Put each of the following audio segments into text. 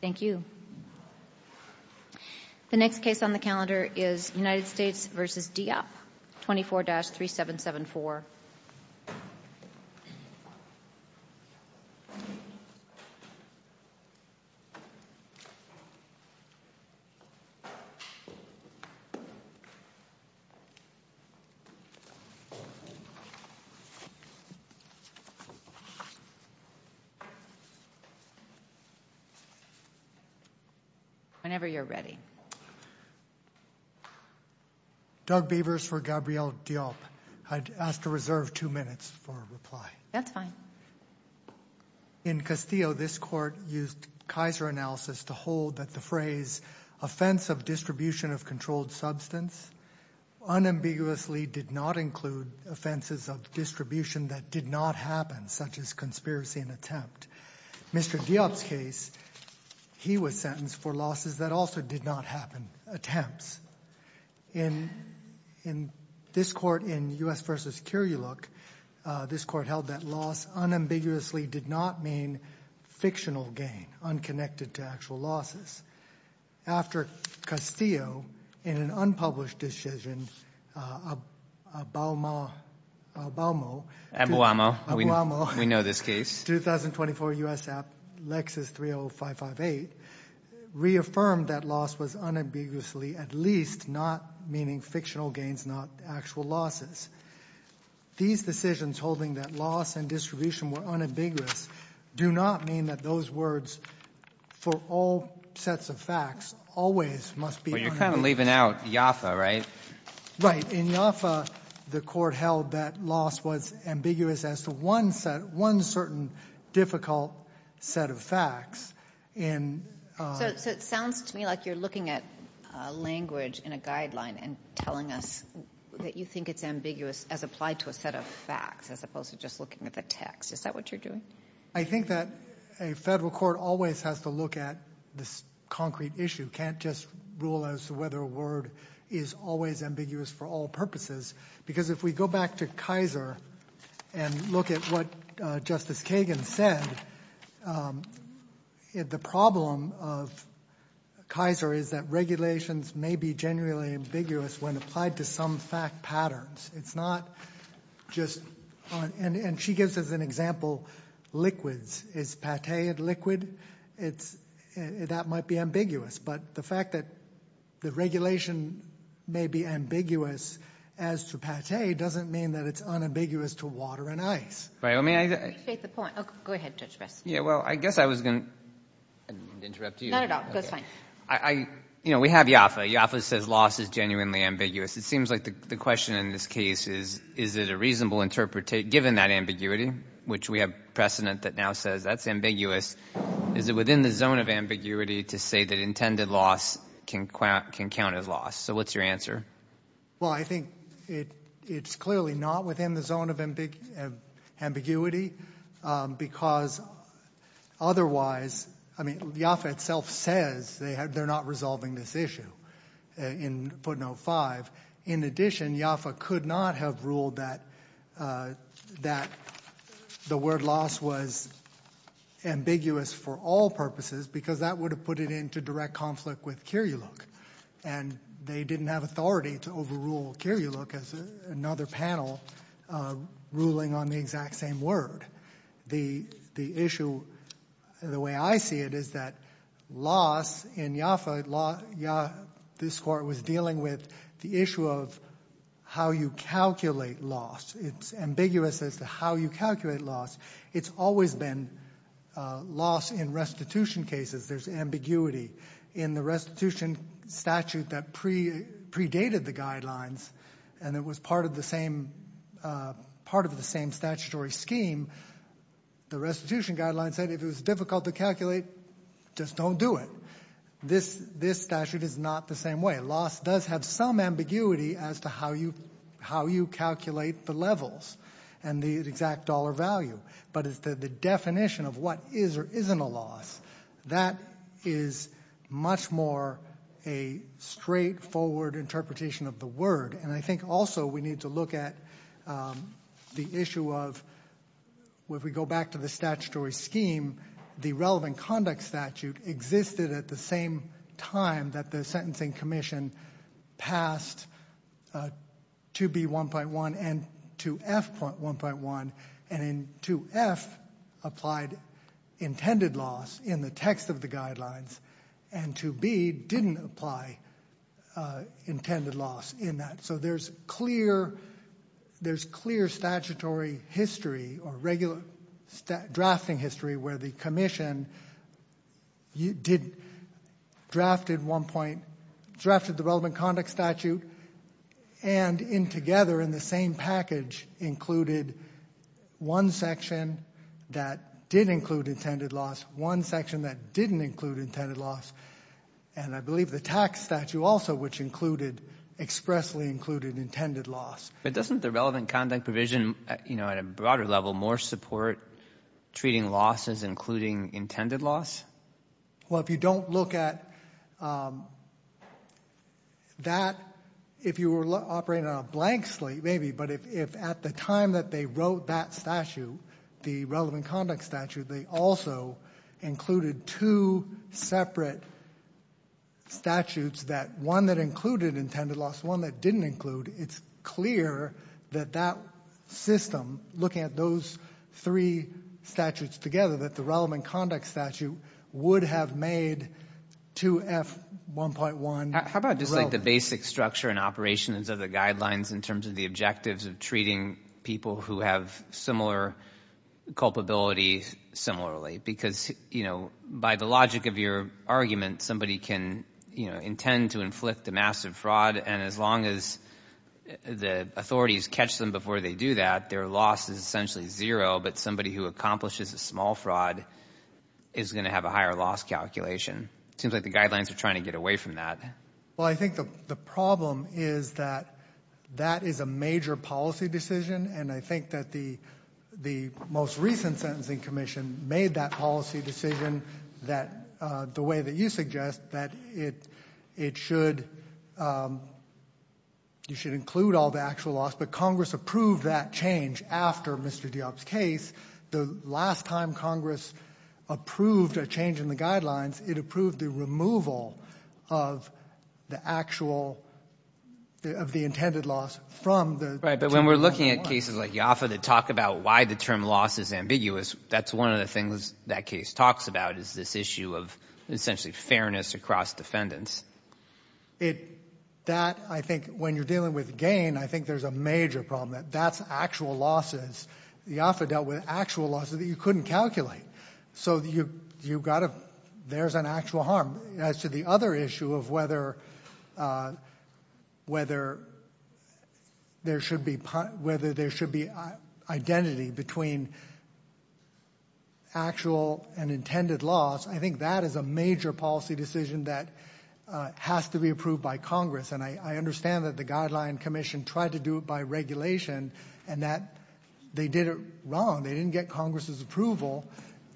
Thank you. The next case on the calendar is United States v. Diop, 24-3774. Whenever you're ready. Doug Beavers for Gabrielle Diop. I'd ask to reserve two minutes for a reply. That's fine. In Castillo, this Court used Kaiser analysis to hold that the phrase offense of distribution of controlled substance unambiguously did not include offenses of distribution that did not happen, such as conspiracy and attempt. Mr. Diop's case, he was sentenced for losses that also did not happen. Attempts. In this Court, in U.S. v. Curuloc, this Court held that loss unambiguously did not mean fictional gain, unconnected to actual losses. After Castillo, in an unpublished decision, Abouamo Abouamo. We know this case. 2024 U.S. App, Lexus 30558, reaffirmed that loss was unambiguously at least not meaning fictional gains, not actual losses. These decisions holding that loss and distribution were unambiguous do not mean that those words for all sets of facts always must be unambiguous. Well, you're kind of leaving out Yoffa, right? Right. In Yoffa, the Court held that loss was ambiguous as to one set one certain difficult set of facts. So it sounds to me like you're looking at language in a guideline and telling us that you think it's ambiguous as applied to a set of facts, as opposed to just looking at the text. Is that what you're doing? I think that a federal court always has to look at this concrete issue. Can't just rule as to whether a word is always ambiguous for all purposes. Because if we go back to Kaiser and look at what Justice Kagan said, the problem of Kaiser is that regulations may be generally ambiguous when applied to some fact patterns. It's not just, and she gives us an example, liquids. Is pate a liquid? That might be ambiguous. But the fact that the regulation may be ambiguous as to pate doesn't mean that it's unambiguous to water and ice. I appreciate the point. Go ahead, Judge Bress. Well, I guess I was going to interrupt you. Not at all. That's fine. We have Yoffa. Yoffa says loss is genuinely ambiguous. It seems like the question in this case is, is it a reasonable interpretation, given that ambiguity, which we have precedent that now says that's ambiguous, is it within the zone of ambiguity to say that intended loss can count as loss? So what's your answer? Well, I think it's clearly not within the zone of ambiguity because otherwise, I mean, Yoffa itself says they're not resolving this issue in Put No. 5. In addition, Yoffa could not have ruled that the word loss was ambiguous for all purposes because that would have put it into direct conflict with Kiriuluk, and they didn't have authority to overrule Kiriuluk as another panel ruling on the exact same word. The issue, the way I see it, is that loss in Yoffa, this Court was dealing with the issue of how you calculate loss. It's ambiguous as to how you calculate loss. It's always been loss in restitution cases. There's ambiguity in the restitution statute that predated the guidelines, and it was part of the same statutory scheme. The restitution guidelines said if it was difficult to calculate, just don't do it. This statute is not the same way. Loss does have some ambiguity as to how you calculate the levels and the exact dollar value, but the definition of what is or isn't a loss, that is much more a straightforward interpretation of the word, and I think also we need to look at the issue of, if we go back to the statutory scheme, the relevant conduct statute existed at the same time that the sentencing commission passed 2B.1.1 and 2F.1.1, and 2F.1.1 applied intended loss in the text of the guidelines, and 2B.1.1 didn't apply intended loss in that. So there's clear statutory history or regular drafting history where the commission drafted the relevant conduct statute and together in the same package included one section that did include intended loss, one section that didn't include intended loss, and I believe the tax statute also, which included, expressly included intended loss. But doesn't the relevant conduct provision, you know, at a broader level, more support treating losses including intended loss? Well, if you don't look at that, if you were operating on a blank slate maybe, but if at the time that they wrote that statute, the relevant conduct statute, they also included two separate statutes, one that included intended loss, one that didn't include, it's clear that that system, looking at those three statutes together, so that the relevant conduct statute would have made 2F.1.1 relevant. How about just like the basic structure and operations of the guidelines in terms of the objectives of treating people who have similar culpability similarly? Because, you know, by the logic of your argument, somebody can, you know, intend to inflict a massive fraud, and as long as the authorities catch them before they do that, their loss is essentially zero, but somebody who accomplishes a small fraud is going to have a higher loss calculation. It seems like the guidelines are trying to get away from that. Well, I think the problem is that that is a major policy decision, and I think that the most recent sentencing commission made that policy decision that, the way that you suggest, that it should, you should include all the actual loss, but Congress approved that change after Mr. Diop's case. The last time Congress approved a change in the guidelines, it approved the removal of the actual, of the intended loss from the term 2.1. Right, but when we're looking at cases like Yoffa that talk about why the term loss is ambiguous, that's one of the things that case talks about is this issue of essentially fairness across defendants. That, I think, when you're dealing with gain, I think there's a major problem. That's actual losses. Yoffa dealt with actual losses that you couldn't calculate. So you've got to, there's an actual harm. As to the other issue of whether there should be, whether there should be identity between actual and intended loss, I think that is a major policy decision that has to be approved by Congress, and I understand that the guideline commission tried to do it by regulation, and that they did it wrong. They didn't get Congress' approval.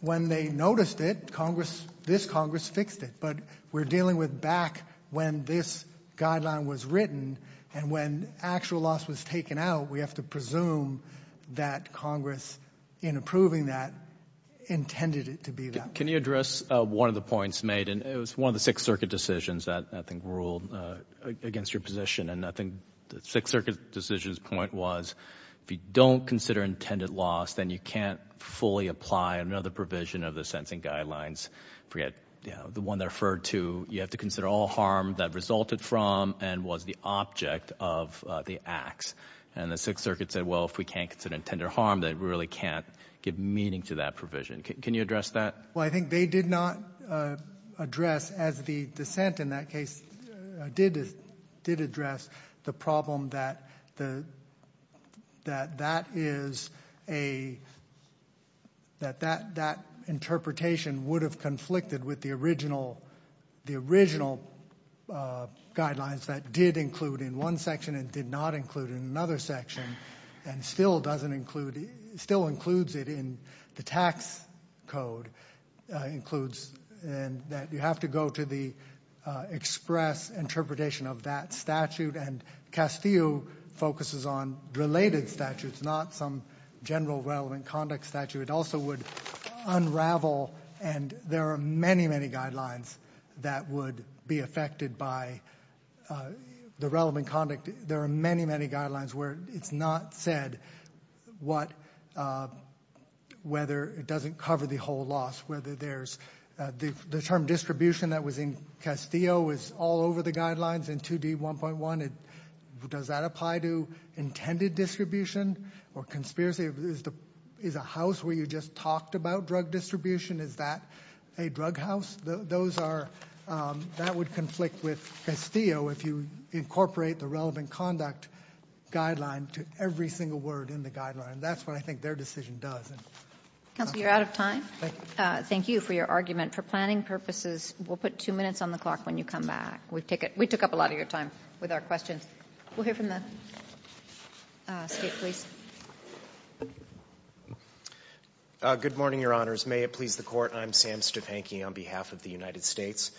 When they noticed it, Congress, this Congress fixed it, but we're dealing with back when this guideline was written, and when actual loss was taken out, we have to presume that Congress, in approving that, intended it to be that way. Can you address one of the points made, and it was one of the Sixth Circuit decisions that I think ruled against your position, and I think the Sixth Circuit decision's point was if you don't consider intended loss, then you can't fully apply another provision of the sentencing guidelines. Forget the one they referred to. You have to consider all harm that resulted from and was the object of the acts, and the Sixth Circuit said, well, if we can't consider intended harm, then we really can't give meaning to that provision. Can you address that? Well, I think they did not address, as the dissent in that case did address, the problem that that interpretation would have conflicted with the original guidelines that did include in one section and did not include in another section and still includes it in the tax code, includes that you have to go to the express interpretation of that statute, and Castillo focuses on related statutes, not some general relevant conduct statute. It also would unravel, and there are many, many guidelines that would be affected by the relevant conduct. There are many, many guidelines where it's not said whether it doesn't cover the whole loss, whether there's the term distribution that was in Castillo is all over the guidelines in 2D1.1. Does that apply to intended distribution or conspiracy? Is a house where you just talked about drug distribution, is that a drug house? Those are — that would conflict with Castillo if you incorporate the relevant conduct guideline to every single word in the guideline. That's what I think their decision does. Counsel, you're out of time. Thank you. Thank you for your argument. For planning purposes, we'll put two minutes on the clock when you come back. We took up a lot of your time with our questions. We'll hear from the State police. Good morning, Your Honors. May it please the Court. I'm Sam Stefanky on behalf of the United States.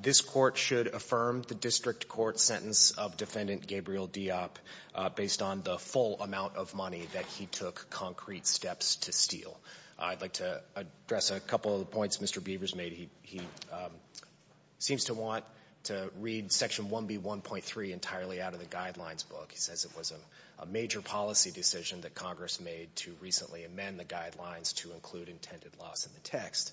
This Court should affirm the district court sentence of Defendant Gabriel Diop based on the full amount of money that he took concrete steps to steal. I'd like to address a couple of the points Mr. Beavers made. He seems to want to read Section 1B1.3 entirely out of the guidelines book. He says it was a major policy decision that Congress made to recently amend the guidelines to include intended loss in the text.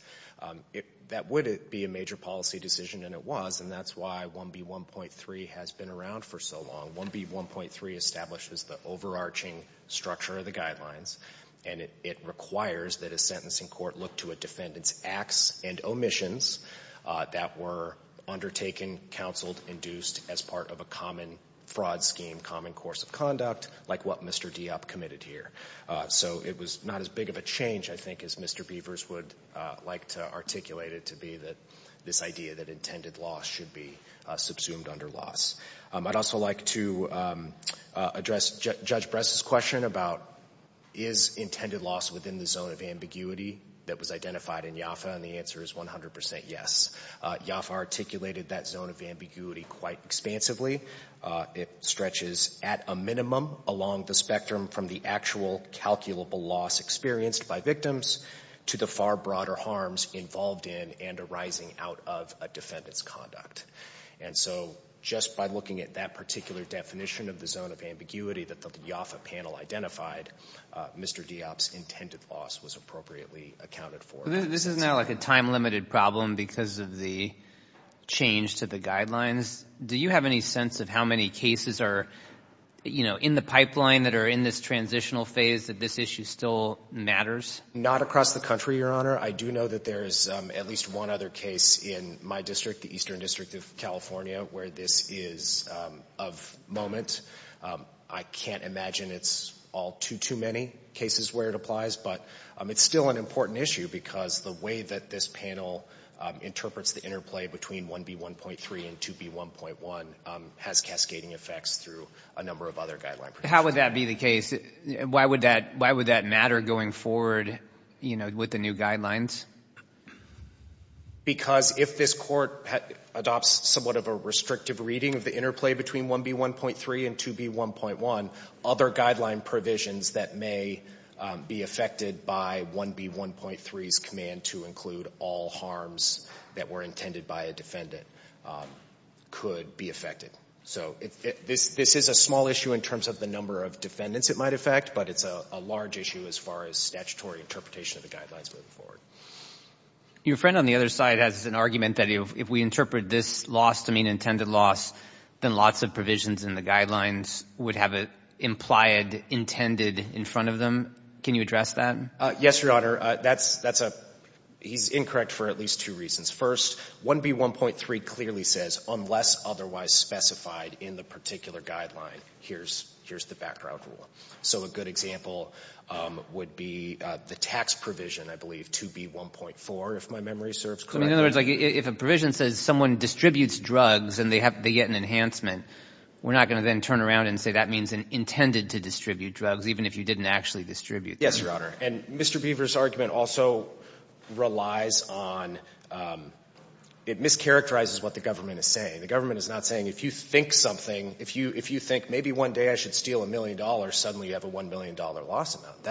That would be a major policy decision, and it was, and that's why 1B1.3 has been around for so long. 1B1.3 establishes the overarching structure of the guidelines, and it requires that a sentencing court look to a defendant's acts and omissions that were undertaken, counseled, induced as part of a common fraud scheme, common course of conduct, like what Mr. Diop committed here. So it was not as big of a change, I think, as Mr. Beavers would like to articulate it to be that this idea that intended loss should be subsumed under loss. I'd also like to address Judge Bress's question about is intended loss within the zone of ambiguity that was identified in Yoffa, and the answer is 100 percent yes. Yoffa articulated that zone of ambiguity quite expansively. It stretches at a minimum along the spectrum from the actual calculable loss experienced by victims to the far broader harms involved in and arising out of a defendant's conduct. And so just by looking at that particular definition of the zone of ambiguity that the Yoffa panel identified, Mr. Diop's intended loss was appropriately accounted for. This is now like a time-limited problem because of the change to the guidelines. Do you have any sense of how many cases are, you know, in the pipeline that are in this transitional phase that this issue still matters? Not across the country, Your Honor. I do know that there is at least one other case in my district, the Eastern District of California, where this is of moment. I can't imagine it's all too, too many cases where it applies, but it's still an important issue because the way that this panel interprets the interplay between 1B1.3 and 2B1.1 has cascading effects through a number of other guidelines. How would that be the case? Why would that matter going forward, you know, with the new guidelines? Because if this Court adopts somewhat of a restrictive reading of the interplay between 1B1.3 and 2B1.1, other guideline provisions that may be affected by 1B1.3 command to include all harms that were intended by a defendant could be affected. So this is a small issue in terms of the number of defendants it might affect, but it's a large issue as far as statutory interpretation of the guidelines moving forward. Your friend on the other side has an argument that if we interpret this loss to mean intended loss, then lots of provisions in the guidelines would have it implied, intended in front of them. Can you address that? Yes, Your Honor. He's incorrect for at least two reasons. First, 1B1.3 clearly says unless otherwise specified in the particular guideline, here's the background rule. So a good example would be the tax provision, I believe, 2B1.4, if my memory serves correctly. In other words, if a provision says someone distributes drugs and they get an enhancement, we're not going to then turn around and say that means intended to distribute drugs, even if you didn't actually distribute them. Yes, Your Honor. And Mr. Beaver's argument also relies on — it mischaracterizes what the government is saying. The government is not saying if you think something, if you think maybe one day I should steal a million dollars, suddenly you have a $1 million loss amount.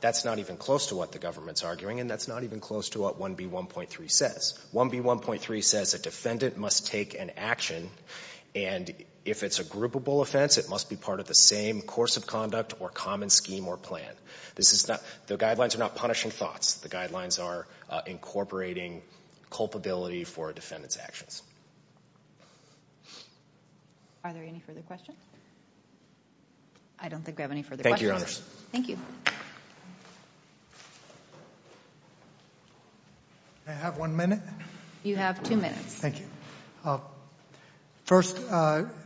That's not even close to what the government's arguing, and that's not even close to what 1B1.3 says. 1B1.3 says a defendant must take an action, and if it's a groupable offense, it must be part of the same course of conduct or common scheme or plan. This is not — the guidelines are not punishing thoughts. The guidelines are incorporating culpability for a defendant's actions. Are there any further questions? I don't think we have any further questions. Thank you. Can I have one minute? You have two minutes. Thank you. First,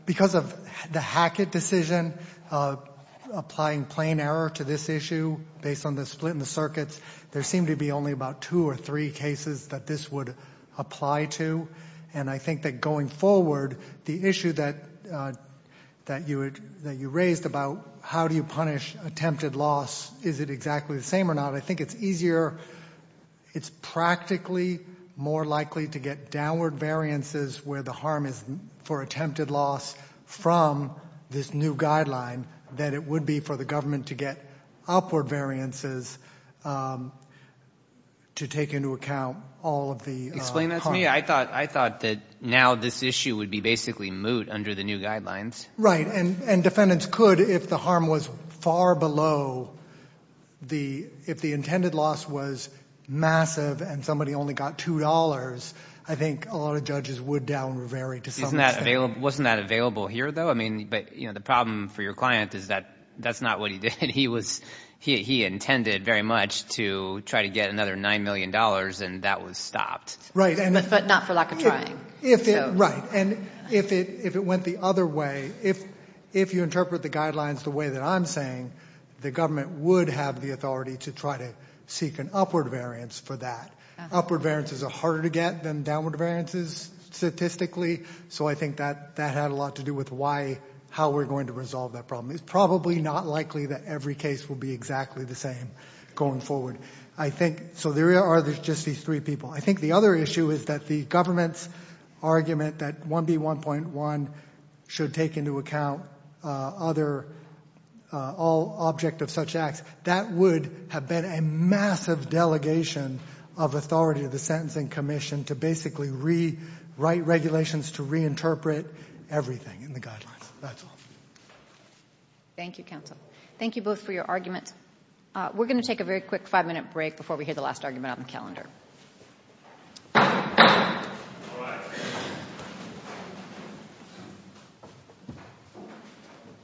because of the Hackett decision, applying plain error to this issue based on the split in the circuits, there seem to be only about two or three cases that this would apply to. And I think that going forward, the issue that you raised about how do you punish attempted loss, is it exactly the same or not? I think it's easier — it's practically more likely to get downward variances where the harm is for attempted loss from this new guideline than it would be for the government to get upward variances to take into account all of the — Explain that to me. I thought that now this issue would be basically moot under the new guidelines. Right. And defendants could, if the harm was far below the — if the intended loss was massive and somebody only got $2, I think a lot of judges would down vary to some extent. Wasn't that available here, though? I mean, but the problem for your client is that that's not what he did. He was — he intended very much to try to get another $9 million, and that was stopped. Right. But not for lack of trying. Right. And if it went the other way, if you interpret the guidelines the way that I'm saying, the government would have the authority to try to seek an upward variance for that. Upward variances are harder to get than downward variances statistically, so I think that had a lot to do with why — how we're going to resolve that problem. It's probably not likely that every case will be exactly the same going forward. I think — so there are just these three people. I think the other issue is that the government's argument that 1B1.1 should take into account other — all object of such acts, that would have been a massive delegation of authority to the Sentencing Commission to basically rewrite regulations to reinterpret everything in the guidelines. That's all. Thank you, counsel. Thank you both for your arguments. We're going to take a very quick five-minute break before we hear the last argument on the calendar.